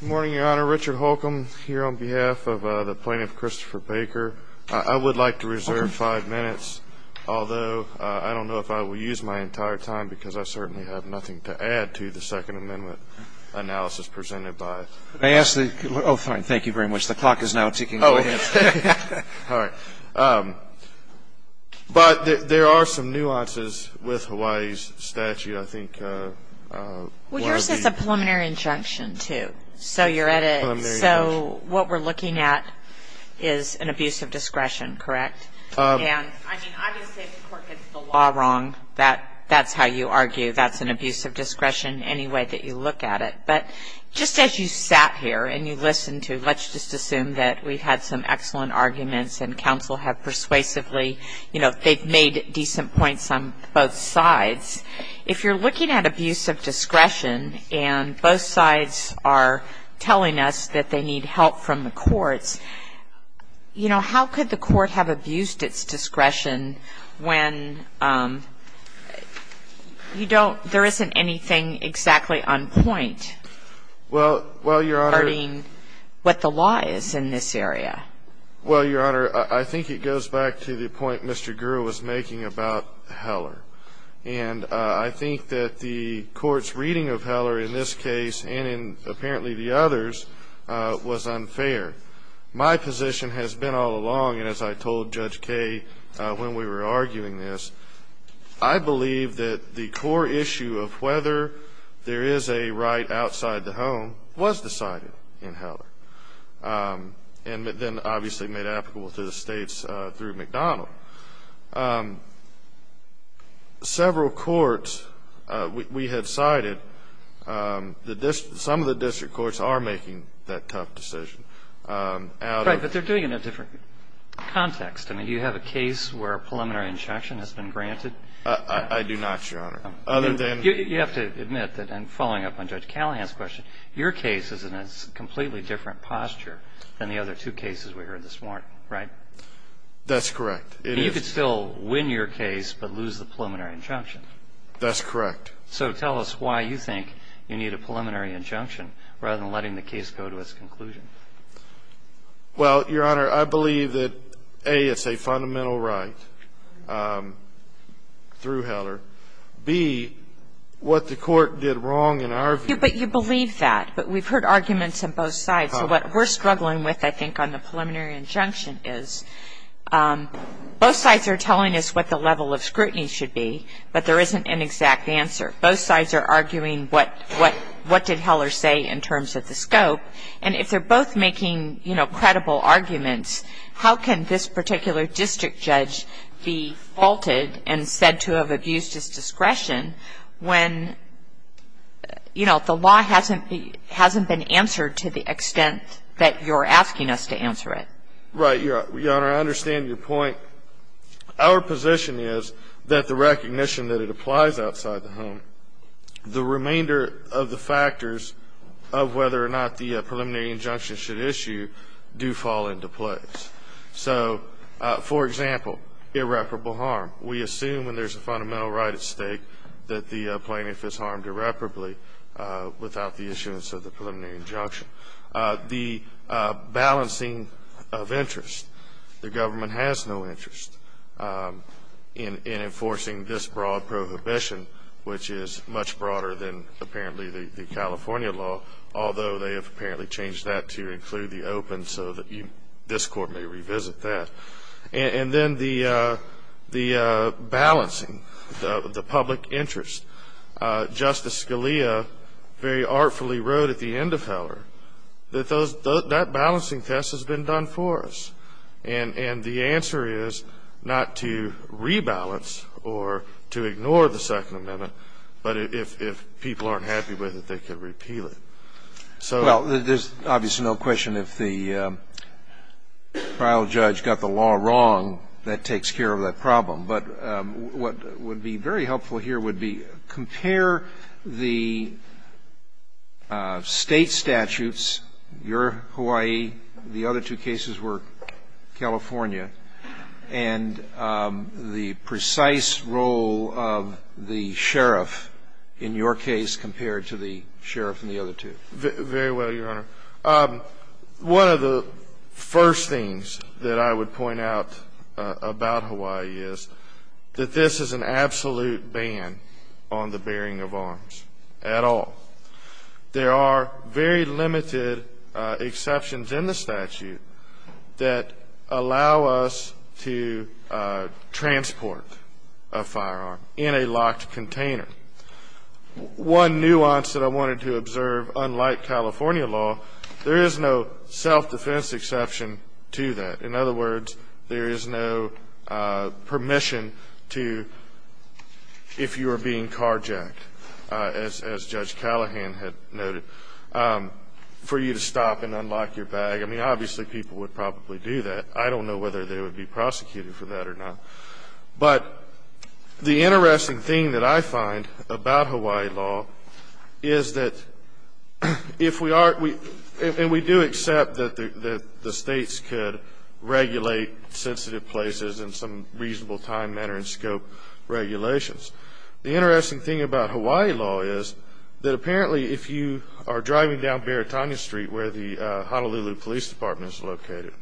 Good morning, Your Honor. Richard Holcomb here on behalf of the plaintiff, Christopher Baker. I would like to reserve five minutes, although I don't know if I will use my entire time because I certainly have nothing to add to the Second Amendment analysis presented by — May I ask the — Oh, fine. Thank you very much. The clock is now ticking. Go ahead. Oh. All right. But there are some nuances with Hawaii's statute. I think one of the — So you're at a — Well, I'm very much — So what we're looking at is an abuse of discretion, correct? And, I mean, obviously, if the court gets the law wrong, that's how you argue. That's an abuse of discretion any way that you look at it. But just as you sat here and you listened to — let's just assume that we had some excellent arguments and counsel have persuasively — you know, they've made decent points on both sides. If you're looking at abuse of discretion and both sides are telling us that they need help from the courts, you know, how could the court have abused its discretion when you don't — there isn't anything exactly on point regarding what the law is in this area? Well, Your Honor, I think it goes back to the point Mr. Gurra was making about Heller. And I think that the court's reading of Heller in this case and in apparently the others was unfair. My position has been all along, and as I told Judge Kaye when we were arguing this, I believe that the core issue of whether there is a right outside the home was decided in Heller. And then obviously made applicable to the States through McDonald. Several courts — we have cited that some of the district courts are making that tough decision. Right. But they're doing it in a different context. I mean, do you have a case where preliminary instruction has been granted? I do not, Your Honor. Other than — You have to admit that, and following up on Judge Callahan's question, your case is in a completely different posture than the other two cases we heard this morning, right? That's correct. It is. You could still win your case but lose the preliminary injunction. That's correct. So tell us why you think you need a preliminary injunction rather than letting the case go to its conclusion. Well, Your Honor, I believe that, A, it's a fundamental right through Heller. B, what the court did wrong in our view — But you believe that. But we've heard arguments on both sides. So what we're struggling with, I think, on the preliminary injunction is both sides are telling us what the level of scrutiny should be, but there isn't an exact answer. Both sides are arguing what did Heller say in terms of the scope. And if they're both making, you know, credible arguments, how can this particular district judge be faulted and said to have abused his discretion when, you know, the law hasn't been answered to the extent that you're asking us to answer it? Right, Your Honor. I understand your point. Our position is that the recognition that it applies outside the home, the remainder of the factors of whether or not the preliminary injunction should issue do fall into place. So, for example, irreparable harm. We assume when there's a fundamental right at stake that the plaintiff is harmed irreparably without the issuance of the preliminary injunction. The balancing of interest. The government has no interest in enforcing this broad prohibition, which is much broader than apparently the California law, although they have apparently changed that to include the open so that you, this Court may revisit that. And then the balancing, the public interest. Justice Scalia very artfully wrote at the end of Heller that those, that balancing test has been done for us. And the answer is not to rebalance or to ignore the Second Amendment, but if people aren't happy with it, they can repeal it. So the question is, if the trial judge got the law wrong, that takes care of the problem. But what would be very helpful here would be, compare the State statutes, your Hawaii. The other two cases were California. And the precise role of the sheriff in your case compared to the sheriff in the other two. Very well, Your Honor. One of the first things that I would point out about Hawaii is that this is an absolute ban on the bearing of arms at all. There are very limited exceptions in the statute that allow us to transport a firearm in a locked container. One nuance that I wanted to observe, unlike California law, there is no self-defense exception to that. In other words, there is no permission to, if you are being carjacked, as Judge Callahan had noted, for you to stop and unlock your bag. I mean, obviously, people would probably do that. I don't know whether they would be prosecuted for that or not. But the interesting thing that I find about Hawaii law is that if we are, and we do accept that the States could regulate sensitive places in some reasonable time, manner, and scope regulations. The interesting thing about Hawaii law is that apparently if you are driving down Baratania Street where the Honolulu Police Department is located,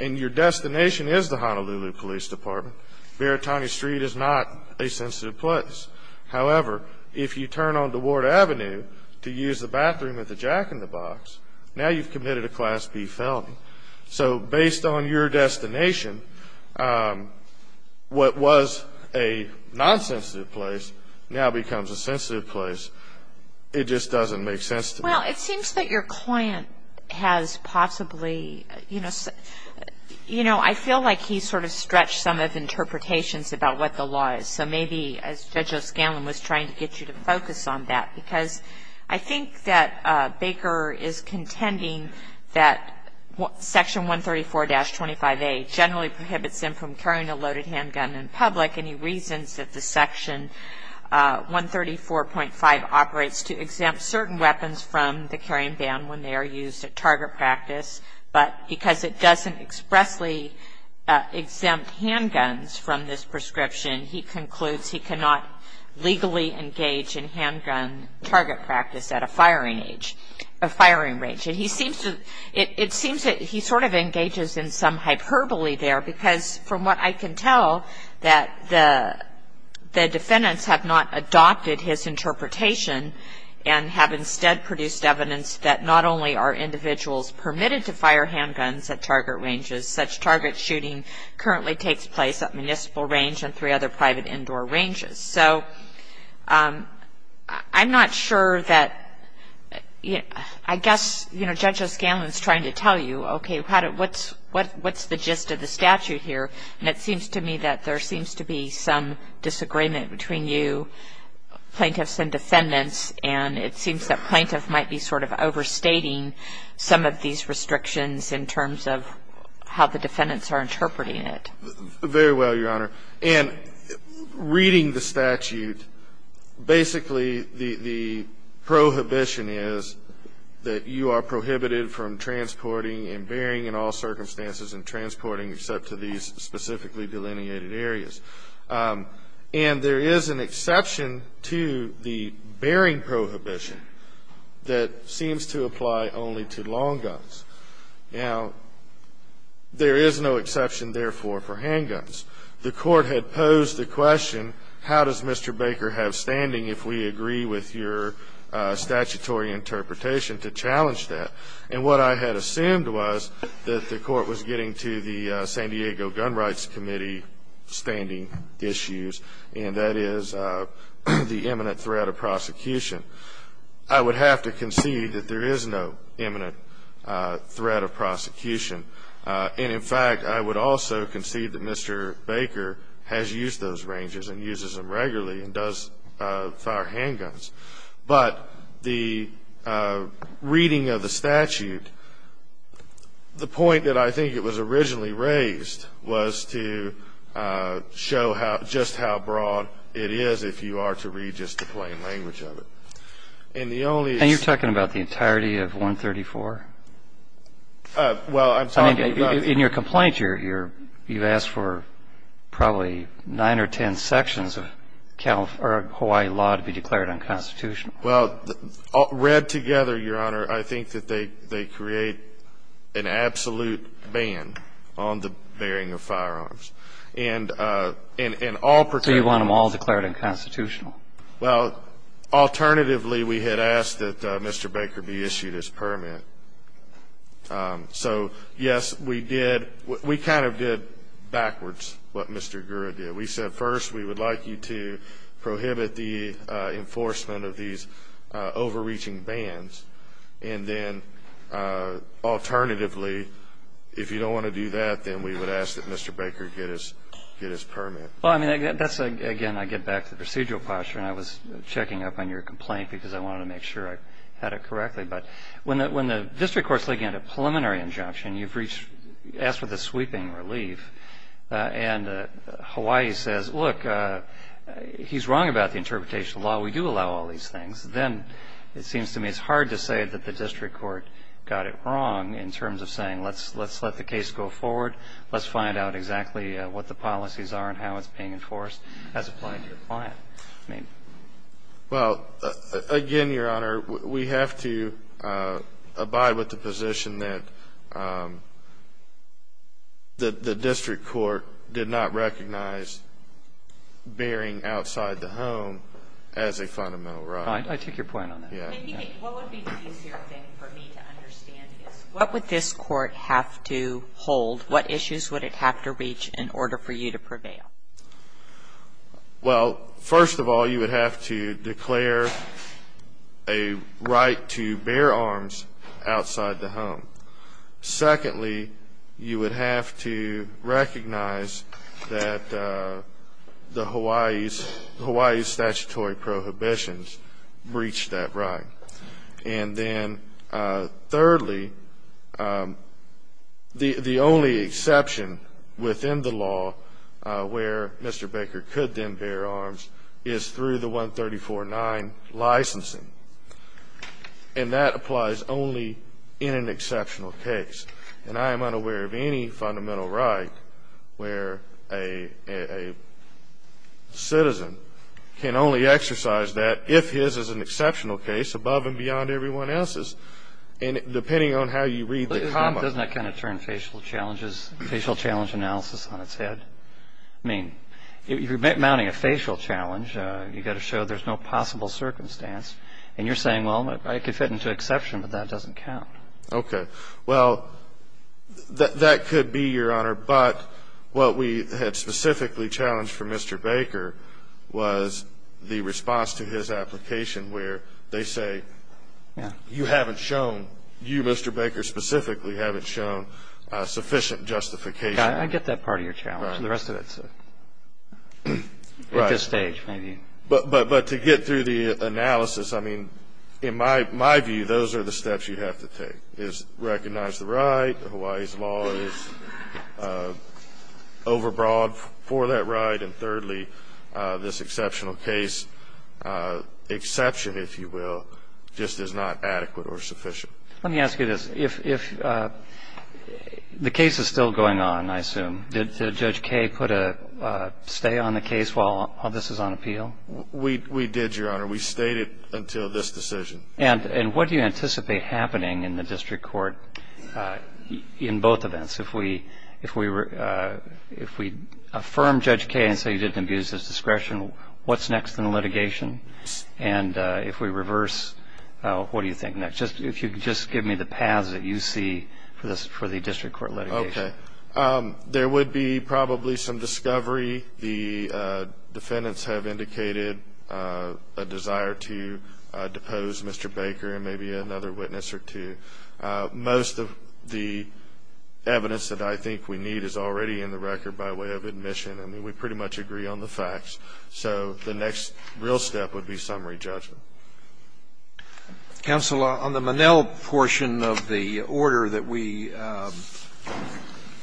and your destination is the Honolulu Police Department, Baratania Street is not a sensitive place. However, if you turn onto Ward Avenue to use the bathroom at the Jack in the Box, now you have committed a Class B felony. So based on your destination, what was a non-sensitive place now becomes a sensitive place. It just doesn't make sense to me. Well, it seems that your client has possibly, you know, I feel like he sort of stretched some of the interpretations about what the law is. So maybe, as Judge O'Scanlan was trying to get you to focus on that, because I think that Baker is contending that Section 134-25A generally prohibits him from carrying a loaded handgun in public, and he reasons that the Section 134.5 operates to exempt certain weapons from the carrying ban when they are used at target practice, but because it doesn't expressly exempt handguns from this prescription, he concludes he cannot legally engage in handgun target practice at a firing range. It seems that he sort of engages in some hyperbole there, because from what I can tell, the defendants have not adopted his interpretation and have instead produced evidence that not only are individuals permitted to fire handguns at target ranges, such target shooting currently takes place at municipal range and three other private indoor ranges. So I'm not sure that, I guess, you know, Judge O'Scanlan is trying to tell you, okay, what's the gist of the statute here, and it seems to me that there seems to be some disagreement between you plaintiffs and defendants, and it seems that plaintiff might be sort of overstating some of these restrictions in terms of how the defendants are interpreting it. Very well, Your Honor. And reading the statute, basically the prohibition is that you are prohibited from transporting and bearing in all circumstances and transporting except to these specifically delineated areas. And there is an exception to the bearing prohibition that seems to apply only to long guns. Now, there is no exception, therefore, for handguns. The court had posed the question, how does Mr. Baker have standing if we agree with your statutory interpretation to challenge that? And what I had assumed was that the court was getting to the San Diego Gun Rights Committee standing issues, and that is the imminent threat of prosecution. I would have to concede that there is no imminent threat of prosecution. And, in fact, I would also concede that Mr. Baker has used those ranges and uses them regularly and does fire handguns. But the reading of the statute, the point that I think it was originally raised was to show just how broad it is if you are to read just the plain language of it. And the only- And you're talking about the entirety of 134? Well, I'm talking about- In your complaint, you've asked for probably nine or ten sections of Hawaii law to be declared unconstitutional. Well, read together, Your Honor, I think that they create an absolute ban on the bearing of firearms. And all- So you want them all declared unconstitutional? Well, alternatively, we had asked that Mr. Baker be issued his permit. So yes, we did- we kind of did backwards what Mr. Gurra did. We said, first, we would like you to prohibit the enforcement of these overreaching bans. And then, alternatively, if you don't want to do that, then we would ask that Mr. Baker get his permit. Well, I mean, that's- again, I get back to the procedural posture, and I was checking up on your complaint because I wanted to make sure I had it correctly. But when the district court's looking at a preliminary injunction, you've reached- asked for the sweeping relief. And Hawaii says, look, he's wrong about the interpretation of the law. We do allow all these things. Then, it seems to me, it's hard to say that the district court got it wrong in terms of saying, let's let the case go forward, let's find out exactly what the policies are and how it's being enforced as applied to the client. Well, again, Your Honor, we have to abide with the position that the district court did not recognize bearing outside the home as a fundamental right. I take your point on that. Yeah. What would be the easier thing for me to understand is, what would this court have to hold? What issues would it have to reach in order for you to prevail? Well, first of all, you would have to declare a right to bear arms outside the home. Secondly, you would have to recognize that the Hawaii's statutory prohibitions breach that right. And then, thirdly, the only exception within the law where Mr. Baker could then bear arms is through the 134-9 licensing. And that applies only in an exceptional case. And I am unaware of any fundamental right where a citizen can only exercise that if his is an exceptional case above and beyond everyone else's, depending on how you read the comment. Doesn't that kind of turn facial challenges, facial challenge analysis on its head? I mean, if you're mounting a facial challenge, you've got to show there's no possible circumstance. And you're saying, well, I could fit into exception, but that doesn't count. Okay. Well, that could be, Your Honor. But what we had specifically challenged for Mr. Baker was the response to his application where they say, you haven't shown, you, Mr. Baker, specifically haven't shown sufficient justification. I get that part of your challenge. The rest of it's at this stage, maybe. But to get through the analysis, I mean, in my view, those are the steps you have to take, is recognize the right, Hawaii's law is overbroad for that right, and thirdly, this exceptional case, exception, if you will, just is not adequate or sufficient. Let me ask you this. If the case is still going on, I assume, did Judge Kay put a stay on the case while this was on appeal? We did, Your Honor. We stayed it until this decision. And what do you anticipate happening in the district court in both events? If we affirm Judge Kay and say you didn't abuse his discretion, what's next in the litigation? And if we reverse, what do you think next? If you could just give me the paths that you see for the district court litigation. Okay. There would be probably some discovery. The defendants have indicated a desire to depose Mr. Baker and maybe another witness or two. Most of the evidence that I think we need is already in the record by way of admission. I mean, we pretty much agree on the facts. So the next real step would be summary judgment. Counsel, on the Monell portion of the order that we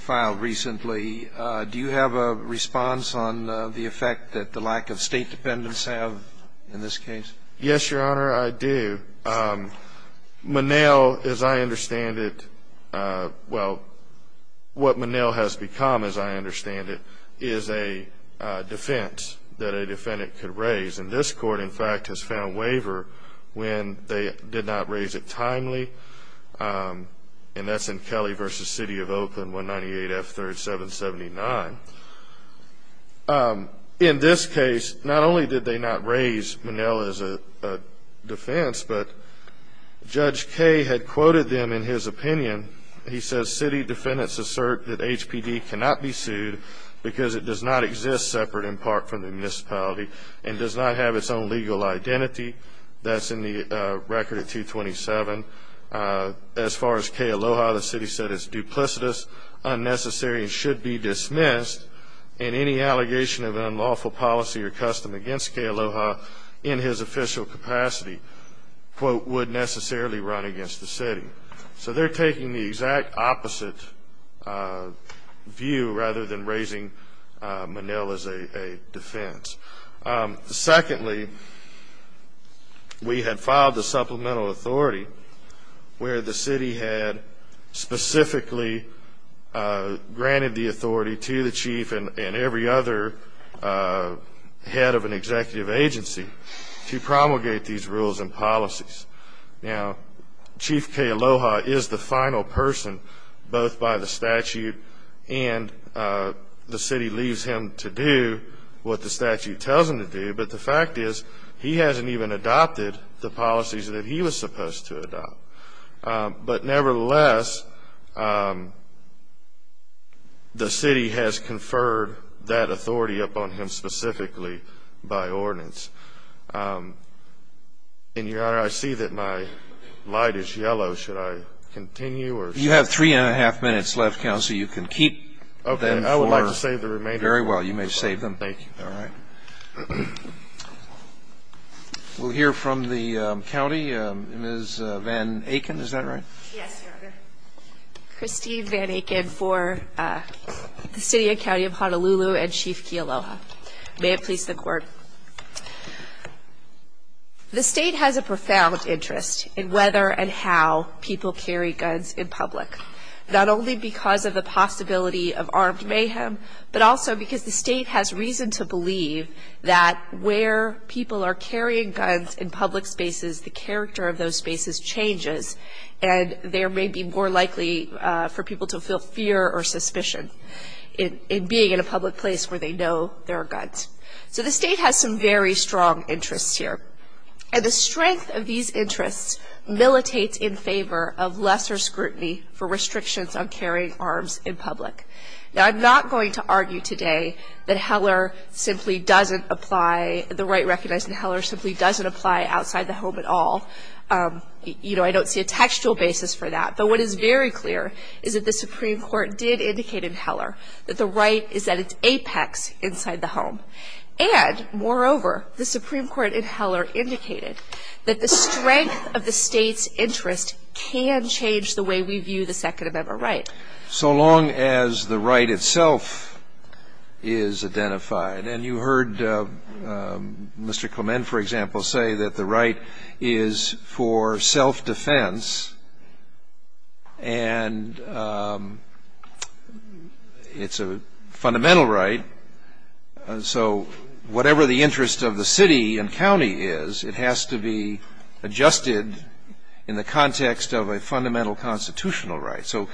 filed recently, do you have a response on the effect that the lack of State dependents have in this case? Yes, Your Honor, I do. Monell, as I understand it, well, what Monell has become, as I understand it, is a defense that a defendant could raise. And this court, in fact, has found waiver when they did not raise it timely. And that's in Kelly v. City of Oakland, 198F3779. In this case, not only did they not raise Monell as a defense, but Judge Kay had quoted them in his opinion. He says, City defendants assert that HPD cannot be sued because it does not exist separate in part from the municipality and does not have its own legal identity. That's in the record of 227. As far as Kay Aloha, the City said it's duplicitous, unnecessary, and should be dismissed. And any allegation of unlawful policy or custom against Kay Aloha in his official capacity, quote, would necessarily run against the City. So they're taking the exact opposite view rather than raising Monell as a defense. Secondly, we had filed a supplemental authority where the City had specifically granted the authority to the Chief and every other head of an executive agency to promulgate these rules and policies. Now, Chief Kay Aloha is the final person, both by the statute and the City leaves him to do what the statute tells him to do, but the fact is he hasn't even adopted the policies that he was supposed to adopt. But nevertheless, the City has conferred that authority upon him specifically by ordinance. And, Your Honor, I see that my light is yellow. Should I continue? You have three and a half minutes left, Counsel. You can keep them for very well. You may save them. Thank you. All right. We'll hear from the County. Ms. Van Aken, is that right? Yes, Your Honor. Christine Van Aken for the City and County of Honolulu and Chief Kay Aloha. May it please the Court. The State has a profound interest in whether and how people carry guns in public, not only because of the possibility of armed mayhem, but also because the State has reason to believe that where people are carrying guns in public spaces, the character of those spaces changes and there may be more likely for people to feel fear or suspicion in being in a public place where they know there are guns. So the State has some very strong interests here. And the strength of these interests militates in favor of lesser scrutiny for restrictions on carrying arms in public. Now, I'm not going to argue today that Heller simply doesn't apply, the right recognized in Heller simply doesn't apply outside the home at all. You know, I don't see a textual basis for that. But what is very clear is that the Supreme Court did indicate in Heller that the right is at its apex inside the home. And, moreover, the Supreme Court in Heller indicated that the strength of the State's interest can change the way we view the Second Amendment right. So long as the right itself is identified. And you heard Mr. Clement, for example, say that the right is for self-defense and it's a fundamental right. So whatever the interest of the city and county is, it has to be adjusted in the context of a fundamental constitutional right. So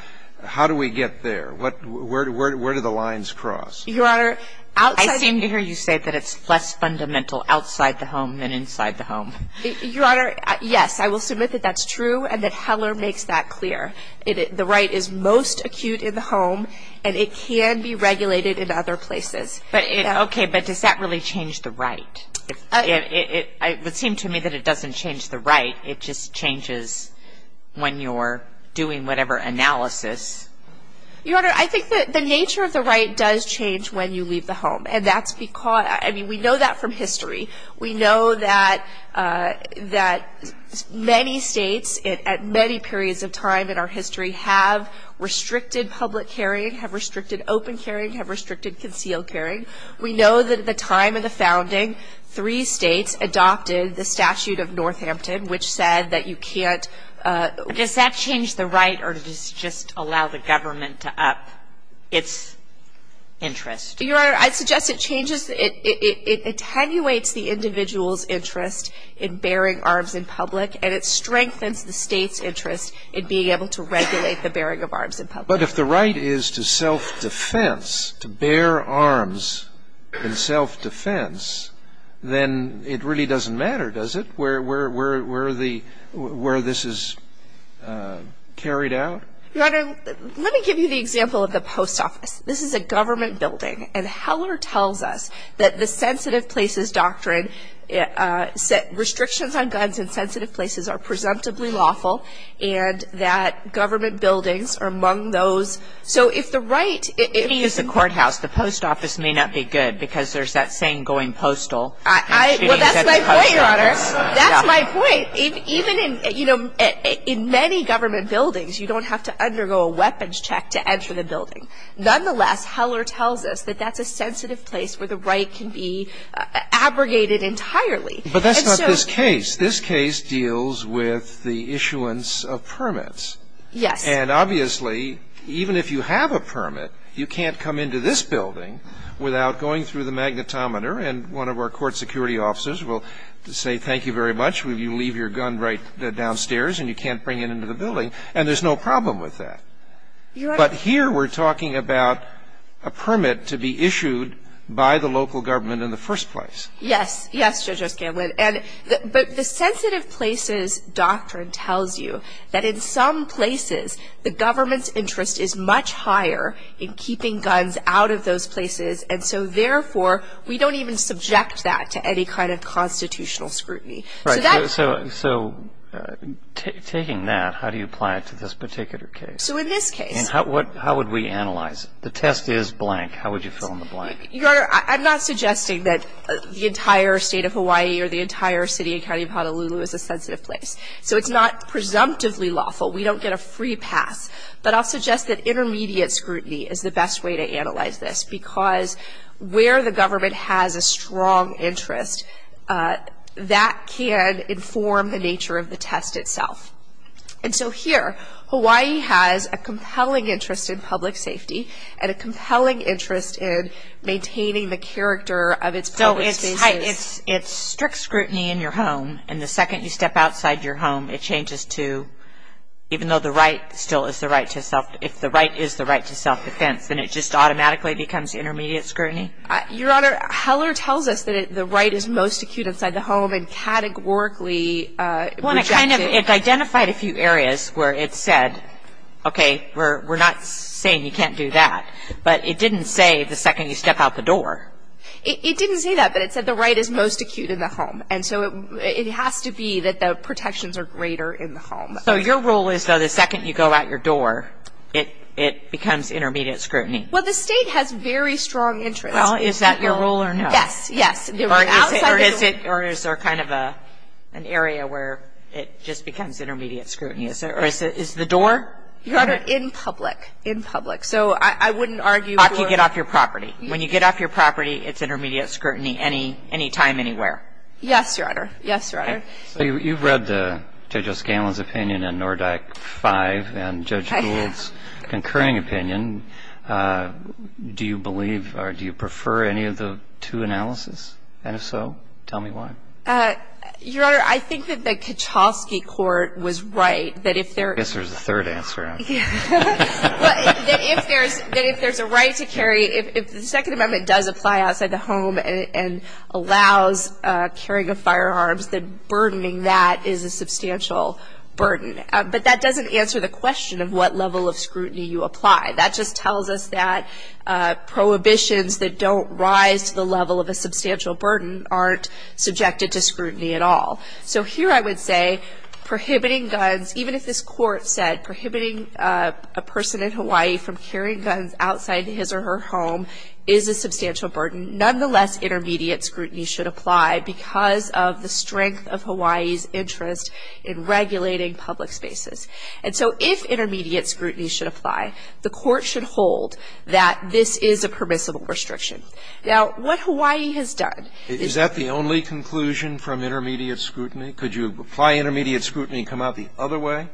how do we get there? Where do the lines cross? Your Honor, I seem to hear you say that it's less fundamental outside the home than inside the home. Your Honor, yes, I will submit that that's true and that Heller makes that clear. The right is most acute in the home and it can be regulated in other places. Okay, but does that really change the right? It would seem to me that it doesn't change the right, it just changes when you're doing whatever analysis. Your Honor, I think that the nature of the right does change when you leave the home. And that's because, I mean, we know that from history. We know that many states at many periods of time in our history have restricted public carrying, have restricted open carrying, have restricted concealed carrying. We know that at the time of the founding, three states adopted the Statute of Northampton, which said that you can't... Does that change the right or does it just allow the government to up its interest? Your Honor, I'd suggest it changes, it attenuates the individual's interest in bearing arms in public and it strengthens the state's interest in being able to regulate the bearing of arms in public. But if the right is to self-defense, to bear arms in self-defense, then it really doesn't matter, does it? Where this is carried out? Your Honor, let me give you the example of the post office. This is a government building and Heller tells us that the sensitive places doctrine, restrictions on guns in sensitive places are presumptively lawful, and that government buildings are among those. So if the right... If it is a courthouse, the post office may not be good because there's that saying going postal. Well, that's my point, Your Honor, that's my point. In many government buildings, you don't have to undergo a weapons check to enter the building. Nonetheless, Heller tells us that that's a sensitive place where the right can be abrogated entirely. But that's not this case. This case deals with the issuance of permits. Yes. And obviously, even if you have a permit, you can't come into this building without going through the magnetometer and one of our court security officers will say, thank you very much, you leave your gun right downstairs and you can't bring it into the building. And there's no problem with that. But here we're talking about a permit to be issued by the local government in the first place. Yes. Yes, Judge O'Scanlan. And but the sensitive places doctrine tells you that in some places, the government's interest is much higher in keeping guns out of those places. And so therefore, we don't even subject that to any kind of constitutional scrutiny. Right. So taking that, how do you apply it to this particular case? So in this case. And how would we analyze it? The test is blank. How would you fill in the blank? Your Honor, I'm not suggesting that the entire state of Hawaii or the entire city and county of Honolulu is a sensitive place. So it's not presumptively lawful. We don't get a free pass. But I'll suggest that intermediate scrutiny is the best way to analyze this because where the government has a strong interest, that can inform the nature of the test itself. And so here, Hawaii has a compelling interest in public safety and a compelling interest in maintaining the character of its public spaces. So it's strict scrutiny in your home. And the second you step outside your home, it changes to, even though the right still is the right to self-defense, if the right is the right to self-defense, then it just automatically becomes intermediate scrutiny? Your Honor, Heller tells us that the right is most acute inside the home and categorically rejected. Well, it kind of, it identified a few areas where it said, okay, we're not saying you can't do that. But it didn't say the second you step out the door. It didn't say that, but it said the right is most acute in the home. And so it has to be that the protections are greater in the home. So your rule is, though, the second you go out your door, it becomes intermediate scrutiny? Well, the state has very strong interest. Well, is that your rule or no? Yes, yes. Or is it, or is there kind of an area where it just becomes intermediate scrutiny? Is there, or is the door? Your Honor, in public. In public. So I wouldn't argue door. After you get off your property. When you get off your property, it's intermediate scrutiny any time, anywhere. Yes, Your Honor. Yes, Your Honor. So you've read Judge O'Scanlon's opinion in NORDAC 5 and Judge Gould's concurring opinion. Do you believe, or do you prefer any of the two analysis? And if so, tell me why. Your Honor, I think that the Kachowski court was right that if there. I guess there's a third answer now. Well, that if there's a right to carry, if the Second Amendment does apply outside the home and allows carrying of firearms, then burdening that is a substantial burden. But that doesn't answer the question of what level of scrutiny you apply. That just tells us that prohibitions that don't rise to the level of a substantial burden aren't subjected to scrutiny at all. So here I would say prohibiting guns, even if this court said prohibiting a person in Hawaii from carrying guns outside his or her home is a substantial burden, nonetheless intermediate scrutiny should apply because of the strength of the public spaces. And so if intermediate scrutiny should apply, the court should hold that this is a permissible restriction. Now, what Hawaii has done. Is that the only conclusion from intermediate scrutiny? Could you apply intermediate scrutiny and come out the other way?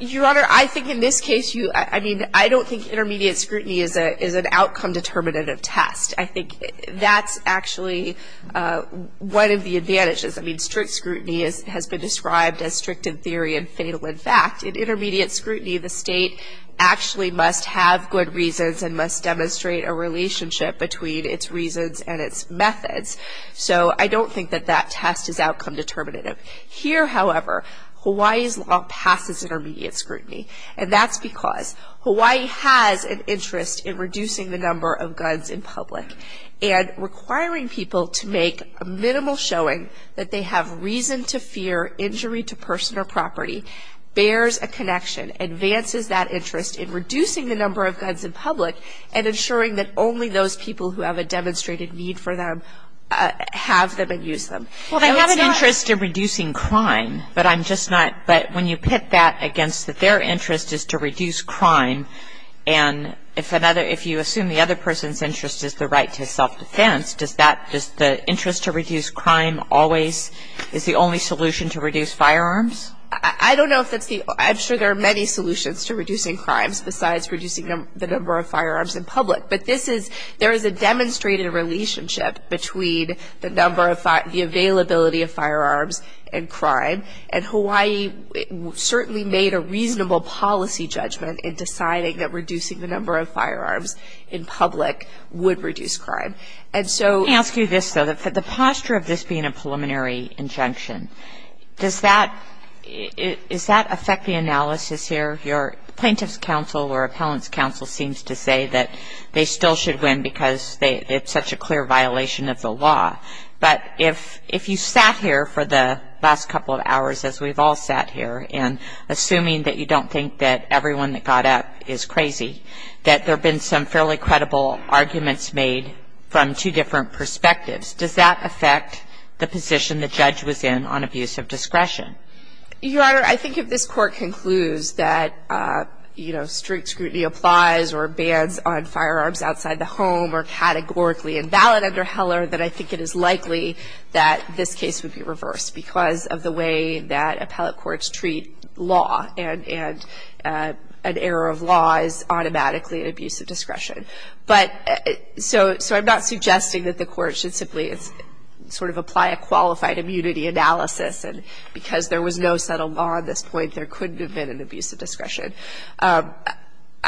Your Honor, I think in this case, I don't think intermediate scrutiny is an outcome determinative test. I think that's actually one of the advantages. I mean, strict scrutiny has been described as strict in theory and fatal in fact. In intermediate scrutiny, the state actually must have good reasons and must demonstrate a relationship between its reasons and its methods. So I don't think that that test is outcome determinative. Here, however, Hawaii's law passes intermediate scrutiny. And that's because Hawaii has an interest in reducing the number of guns in public and requiring people to make a minimal showing that they have reason to fear injury to person or property, bears a connection, advances that interest in reducing the number of guns in public, and ensuring that only those people who have a demonstrated need for them have them and use them. Well, they have an interest in reducing crime, but I'm just not. But when you pit that against that their interest is to reduce crime, and if you assume the other person's interest is the right to self-defense, does the interest to reduce crime always is the only solution to reduce firearms? I don't know if that's the – I'm sure there are many solutions to reducing crimes besides reducing the number of firearms in public. But this is – there is a demonstrated relationship between the number of – the availability of firearms and crime. And Hawaii certainly made a reasonable policy judgment in deciding that reducing the number of firearms in public would reduce crime. And so – Let me ask you this, though. The posture of this being a preliminary injunction, does that – is that affect the analysis here? Your plaintiff's counsel or appellant's counsel seems to say that they still should win because it's such a clear violation of the law. But if you sat here for the last couple of hours, as we've all sat here, and assuming that you don't think that everyone that got up is crazy, that there have been some fairly credible arguments made from two different perspectives, does that affect the position the judge was in on abuse of discretion? Your Honor, I think if this Court concludes that, you know, strict scrutiny applies or bans on firearms outside the home or categorically invalid under Heller, that I think it is likely that this case would be reversed because of the way that appellate courts treat law and – and an error of law is abuse of discretion. But – so – so I'm not suggesting that the Court should simply sort of apply a qualified immunity analysis, and because there was no settled law at this point, there couldn't have been an abuse of discretion.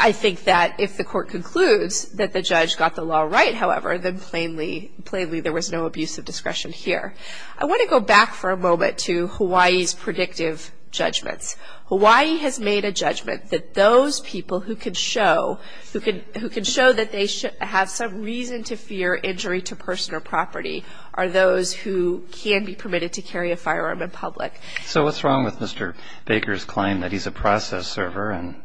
I think that if the Court concludes that the judge got the law right, however, then plainly – plainly there was no abuse of discretion here. I want to go back for a moment to Hawaii's predictive judgments. Hawaii has made a judgment that those people who could show – who could – who could show that they should – have some reason to fear injury to person or property are those who can be permitted to carry a firearm in public. So what's wrong with Mr. Baker's claim that he's a process server and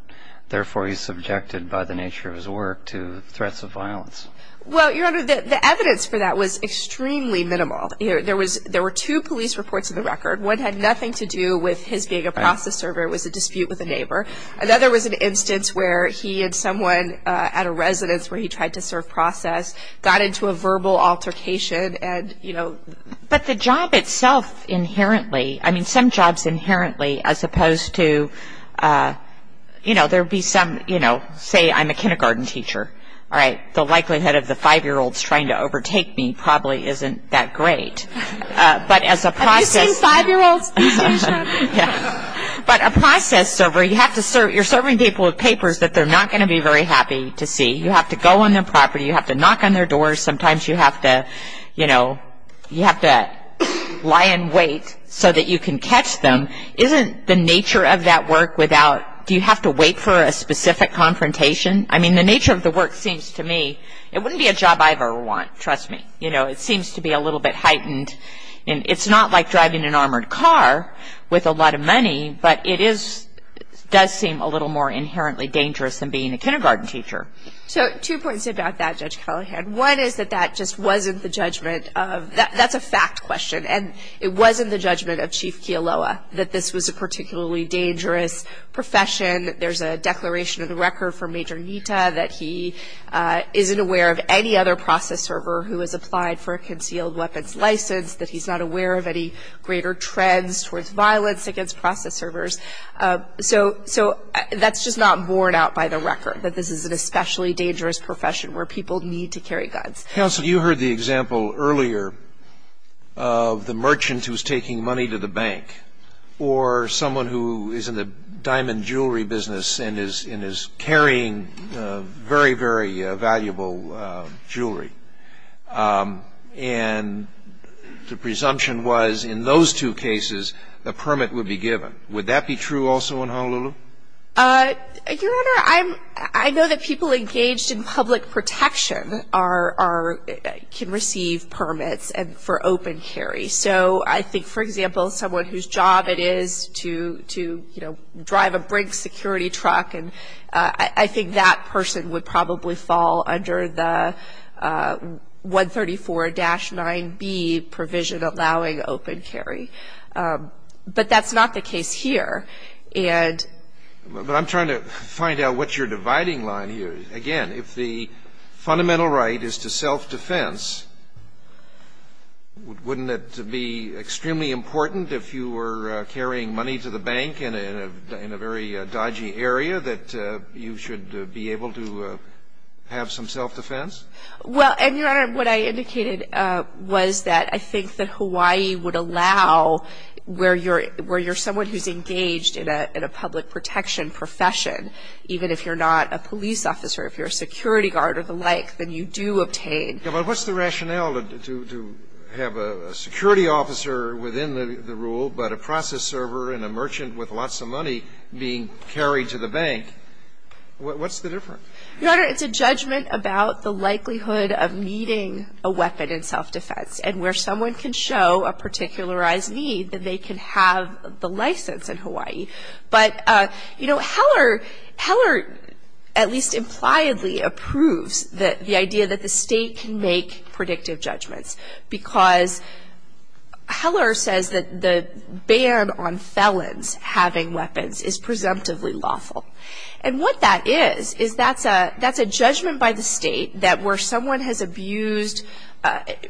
therefore he's subjected by the nature of his work to threats of violence? Well, Your Honor, the evidence for that was extremely minimal. There was – there were two police reports of the record. One had nothing to do with his being a process server. It was a dispute with a neighbor. Another was an instance where he and someone at a residence where he tried to serve process got into a verbal altercation and, you know – But the job itself inherently – I mean, some jobs inherently, as opposed to – you know, there would be some – you know, say I'm a kindergarten teacher. All right, the likelihood of the five-year-olds trying to overtake me probably isn't that great. But as a process – Have you seen five-year-olds? These days, Your Honor? Yeah. But a process server, you have to serve – you're serving people with papers that they're not going to be very happy to see. You have to go on their property. You have to knock on their doors. Sometimes you have to – you know, you have to lie in wait so that you can catch them. Isn't the nature of that work without – do you have to wait for a specific confrontation? I mean, the nature of the work seems to me – it wouldn't be a job I've ever won, trust me. You know, it seems to be a little bit heightened. And it's not like driving an armored car with a lot of money, but it is – does seem a little more inherently dangerous than being a kindergarten teacher. So two points about that, Judge Callahan. One is that that just wasn't the judgment of – that's a fact question. And it wasn't the judgment of Chief Kealoha that this was a particularly dangerous profession. There's a declaration in the record from Major Nita that he isn't aware of any other process server who has applied for a concealed weapons license, that he's not aware of any greater trends towards violence against process servers. So that's just not borne out by the record, that this is an especially dangerous profession where people need to carry guns. Counsel, you heard the example earlier of the merchant who's taking money to the bank or someone who is in the diamond jewelry business and is carrying very, very valuable jewelry. And the presumption was in those two cases, a permit would be given. Would that be true also in Honolulu? Your Honor, I'm – I know that people engaged in public protection are – can receive permits for open carry. So I think, for example, someone whose job it is to, you know, drive a Brink security truck, and I think that person would probably fall under the 134-9B provision allowing open carry. But that's not the case here. And – But I'm trying to find out what your dividing line here is. Again, if the fundamental right is to self-defense, wouldn't it be extremely important if you were carrying money to the bank in a very dodgy area that you should be able to have some self-defense? Well, and Your Honor, what I indicated was that I think that Hawaii would allow where you're – where you're someone who's engaged in a public protection profession, even if you're not a police officer, if you're a security guard or the like, then you do obtain. Yeah, but what's the rationale to have a security officer within the rule, but a process server and a merchant with lots of money being carried to the bank? What's the difference? Your Honor, it's a judgment about the likelihood of needing a weapon in self-defense and where someone can show a particularized need that they can have the license in Hawaii. But, you know, Heller – Heller at least impliedly approves the idea that the state can make predictive judgments because Heller says that the ban on felons having weapons is presumptively lawful. And what that is, is that's a – that's a judgment by the state that where someone has abused –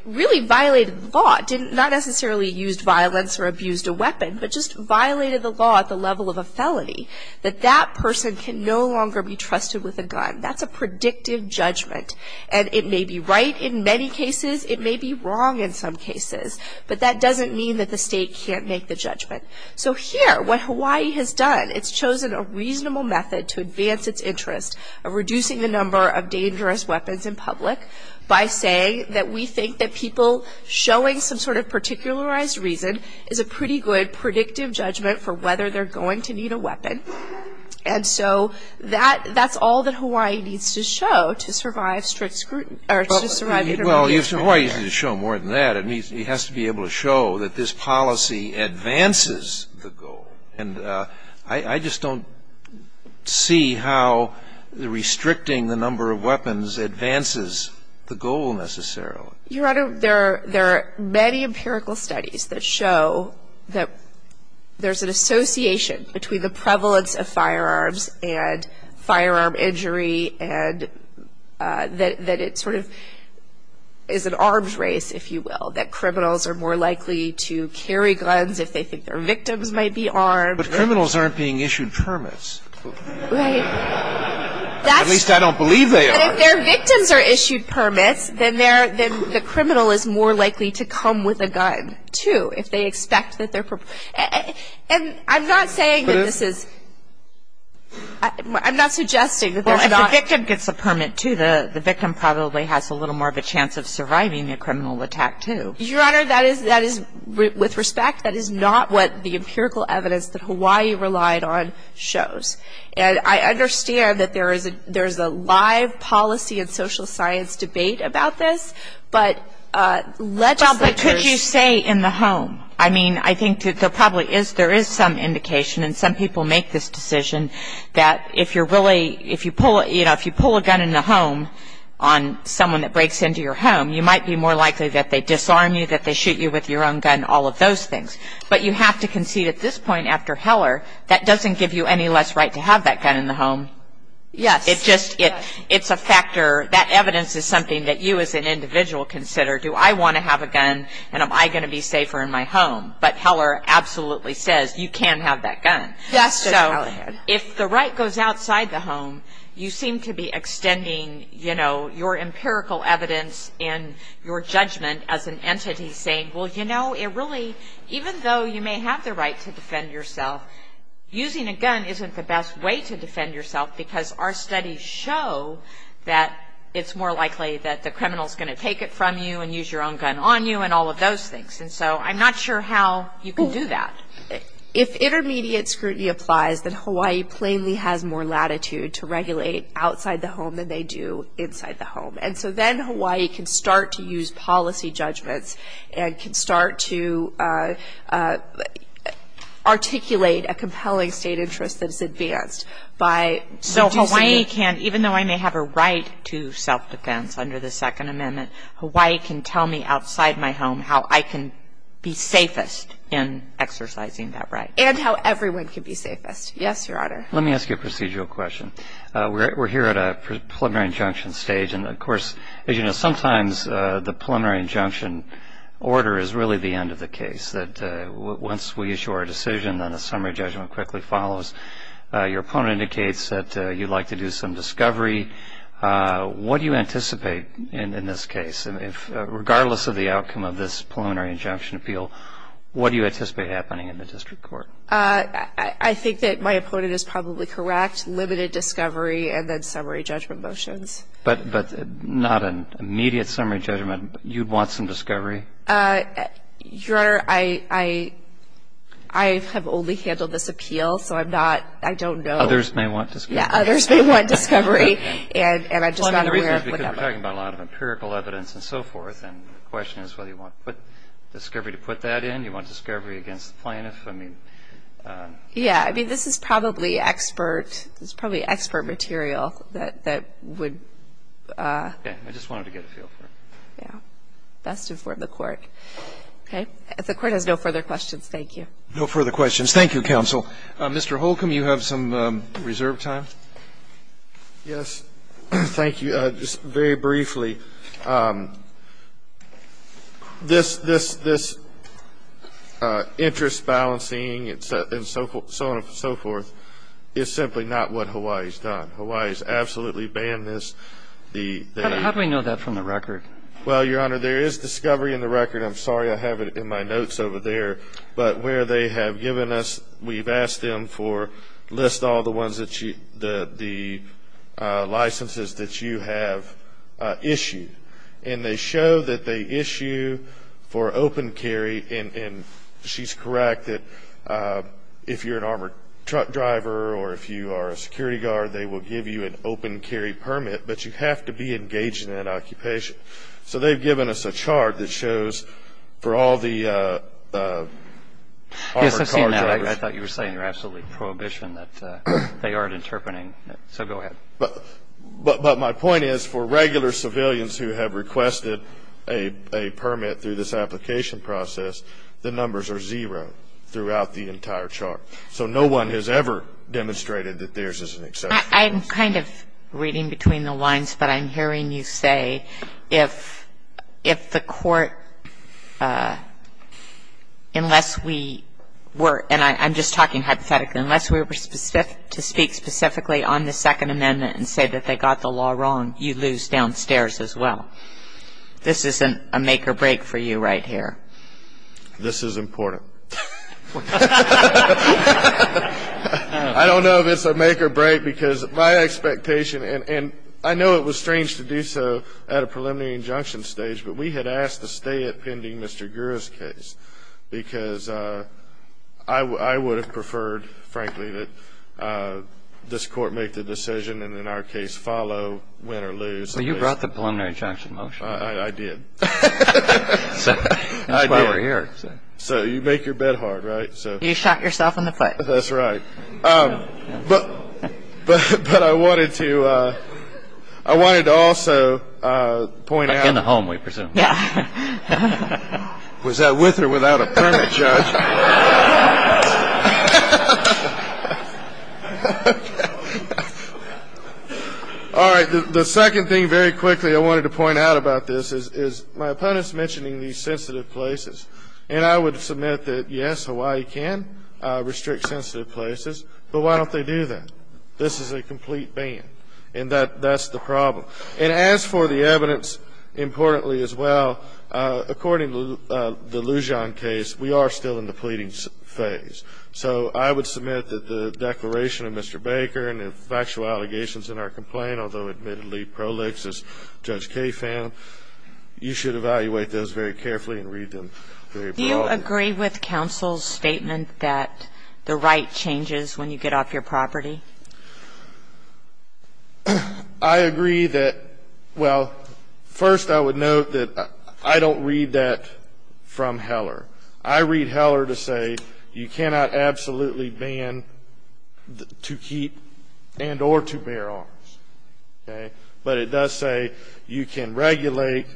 really violated the law, didn't – not necessarily used violence or abused a weapon, but just violated the law at the level of a felony, that that person can no longer be trusted with a gun. That's a predictive judgment. And it may be right in many cases. It may be wrong in some cases. But that doesn't mean that the state can't make the judgment. So here, what Hawaii has done, it's chosen a reasonable method to advance its interest of reducing the number of dangerous weapons in public by saying that we think that people showing some sort of particularized reason is a pretty good predictive judgment for whether they're going to need a weapon. And so that – that's all that Hawaii needs to show to survive strict – or to survive a criminal case. Well, if Hawaii needs to show more than that, it has to be able to show that this policy advances the goal. And I just don't see how restricting the number of weapons advances the goal necessarily. Your Honor, there are – there are many empirical studies that show that there's an association between the prevalence of firearms and firearm injury and that it sort of is an arms race, if you will, that criminals are more likely to carry guns if they think their victims might be armed. But criminals aren't being issued permits. Right. At least I don't believe they are. And if their victims are issued permits, then they're – then the criminal is more likely to come with a gun, too, if they expect that they're – and I'm not saying that this is – I'm not suggesting that there's not – Well, if the victim gets a permit, too, the victim probably has a little more of a chance of surviving a criminal attack, too. Your Honor, that is – that is – with respect, that is not what the empirical evidence that Hawaii relied on shows. And I understand that there is a – there's a live policy and social science debate about this, but legislatures – Well, but could you say in the home? I mean, I think there probably is – there is some indication, and some people make this decision, that if you're really – if you pull – you know, if you pull a gun in the home on someone that breaks into your home, you might be more likely that they disarm you, that they shoot you with your own gun, all of those things. But you have to concede at this point, after Heller, that doesn't give you any less right to have that gun in the home. Yes. It's just – it's a factor – that evidence is something that you as an individual consider. Do I want to have a gun, and am I going to be safer in my home? But Heller absolutely says, you can have that gun. Yes. So if the right goes outside the home, you seem to be extending, you know, your empirical evidence and your judgment as an entity, saying, well, you know, it really – even though you may have the right to defend yourself, using a gun isn't the best way to defend yourself, because our studies show that it's more likely that the criminal's going to take it from you and use your own gun on you, and all of those things. And so I'm not sure how you can do that. If intermediate scrutiny applies, then Hawaii plainly has more latitude to regulate outside the home than they do inside the home. And so then Hawaii can start to use policy judgments and can start to articulate a compelling state interest that is advanced by reducing the – So Hawaii can – even though I may have a right to self-defense under the Second Amendment, Hawaii can tell me outside my home how I can be safest in exercising that right. And how everyone can be safest. Yes, Your Honor. Let me ask you a procedural question. We're here at a preliminary injunction stage. And of course, as you know, sometimes the preliminary injunction order is really the end of the case. That once we issue our decision, then a summary judgment quickly follows. Your opponent indicates that you'd like to do some discovery. What do you anticipate in this case? Regardless of the outcome of this preliminary injunction appeal, what do you anticipate happening in the district court? I think that my opponent is probably correct. Limited discovery and then summary judgment motions. But not an immediate summary judgment. You'd want some discovery? Your Honor, I have only handled this appeal. So I'm not – I don't know – Others may want discovery. Yeah, others may want discovery. And I'm just not aware of the outcome. We're talking about a lot of empirical evidence and so forth. And the question is whether you want discovery to put that in. You want discovery against the plaintiff. I mean – Yeah. I mean, this is probably expert – this is probably expert material that would – Yeah. I just wanted to get a feel for it. Yeah. Best to inform the court. Okay. If the court has no further questions, thank you. No further questions. Thank you, counsel. Mr. Holcomb, you have some reserve time? Yes. Thank you. Just very briefly, this interest balancing and so on and so forth is simply not what Hawaii's done. Hawaii's absolutely banned this. How do we know that from the record? Well, Your Honor, there is discovery in the record. I'm sorry I have it in my notes over there. But where they have given us – we've asked them for – list all the ones that the licenses that you have issued. And they show that they issue for open carry. And she's correct that if you're an armored truck driver or if you are a security guard, they will give you an open carry permit. But you have to be engaged in that occupation. So they've given us a chart that shows for all the armored car drivers. Yes, I've seen that. I thought you were saying you're absolutely prohibition that they aren't interpreting. So go ahead. But my point is for regular civilians who have requested a permit through this application process, the numbers are zero throughout the entire chart. So no one has ever demonstrated that theirs is an exception. I'm kind of reading between the lines. But I'm hearing you say if the court – unless we were – and I'm just talking hypothetically. Unless we were to speak specifically on the Second Amendment and say that they got the law wrong, you lose downstairs as well. This isn't a make or break for you right here. This is important. I don't know if it's a make or break. Because my expectation – and I know it was strange to do so at a preliminary injunction stage. But we had asked to stay it pending Mr. Gurra's case. Because I would have preferred, frankly, that this court make the decision and in our case follow, win or lose. So you brought the preliminary injunction motion? I did. That's why we're here. So you make your bet hard, right? You shot yourself in the foot. That's right. But I wanted to also point out – Back in the home, we presume. Was that with or without a permit, Judge? All right. The second thing very quickly I wanted to point out about this is my opponents mentioning these sensitive places. And I would submit that, yes, Hawaii can restrict sensitive places. But why don't they do that? This is a complete ban. And that's the problem. And as for the evidence, importantly as well, according to the Lujan case, we are still in the pleading phase. So I would submit that the declaration of Mr. Baker and the factual allegations in our complaint, although admittedly pro lix as Judge Kaye found, you should evaluate those very carefully and read them very broadly. Do you agree with counsel's statement that the right changes when you get off your property? I agree that – well, first I would note that I don't read that from Heller. I read Heller to say you cannot absolutely ban to keep and or to bear arms. Okay? But it does say you can regulate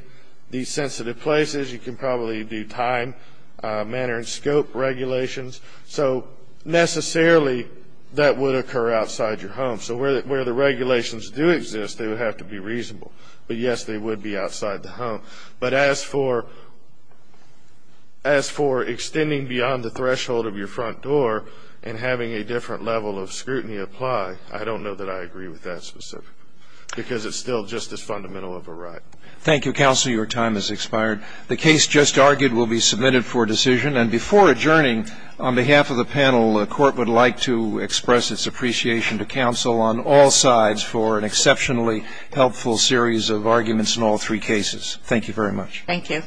these sensitive places. You can probably do time, manner, and scope regulations. So necessarily that would occur outside your home. So where the regulations do exist, they would have to be reasonable. But, yes, they would be outside the home. But as for extending beyond the threshold of your front door and having a different level of scrutiny apply, I don't know that I agree with that specifically, because it's still just as fundamental of a right. Thank you, counsel. Your time has expired. The case just argued will be submitted for decision. And before adjourning, on behalf of the panel, the Court would like to express its appreciation to counsel on all sides for an exceptionally helpful series of arguments in all three cases. Thank you very much. Thank you.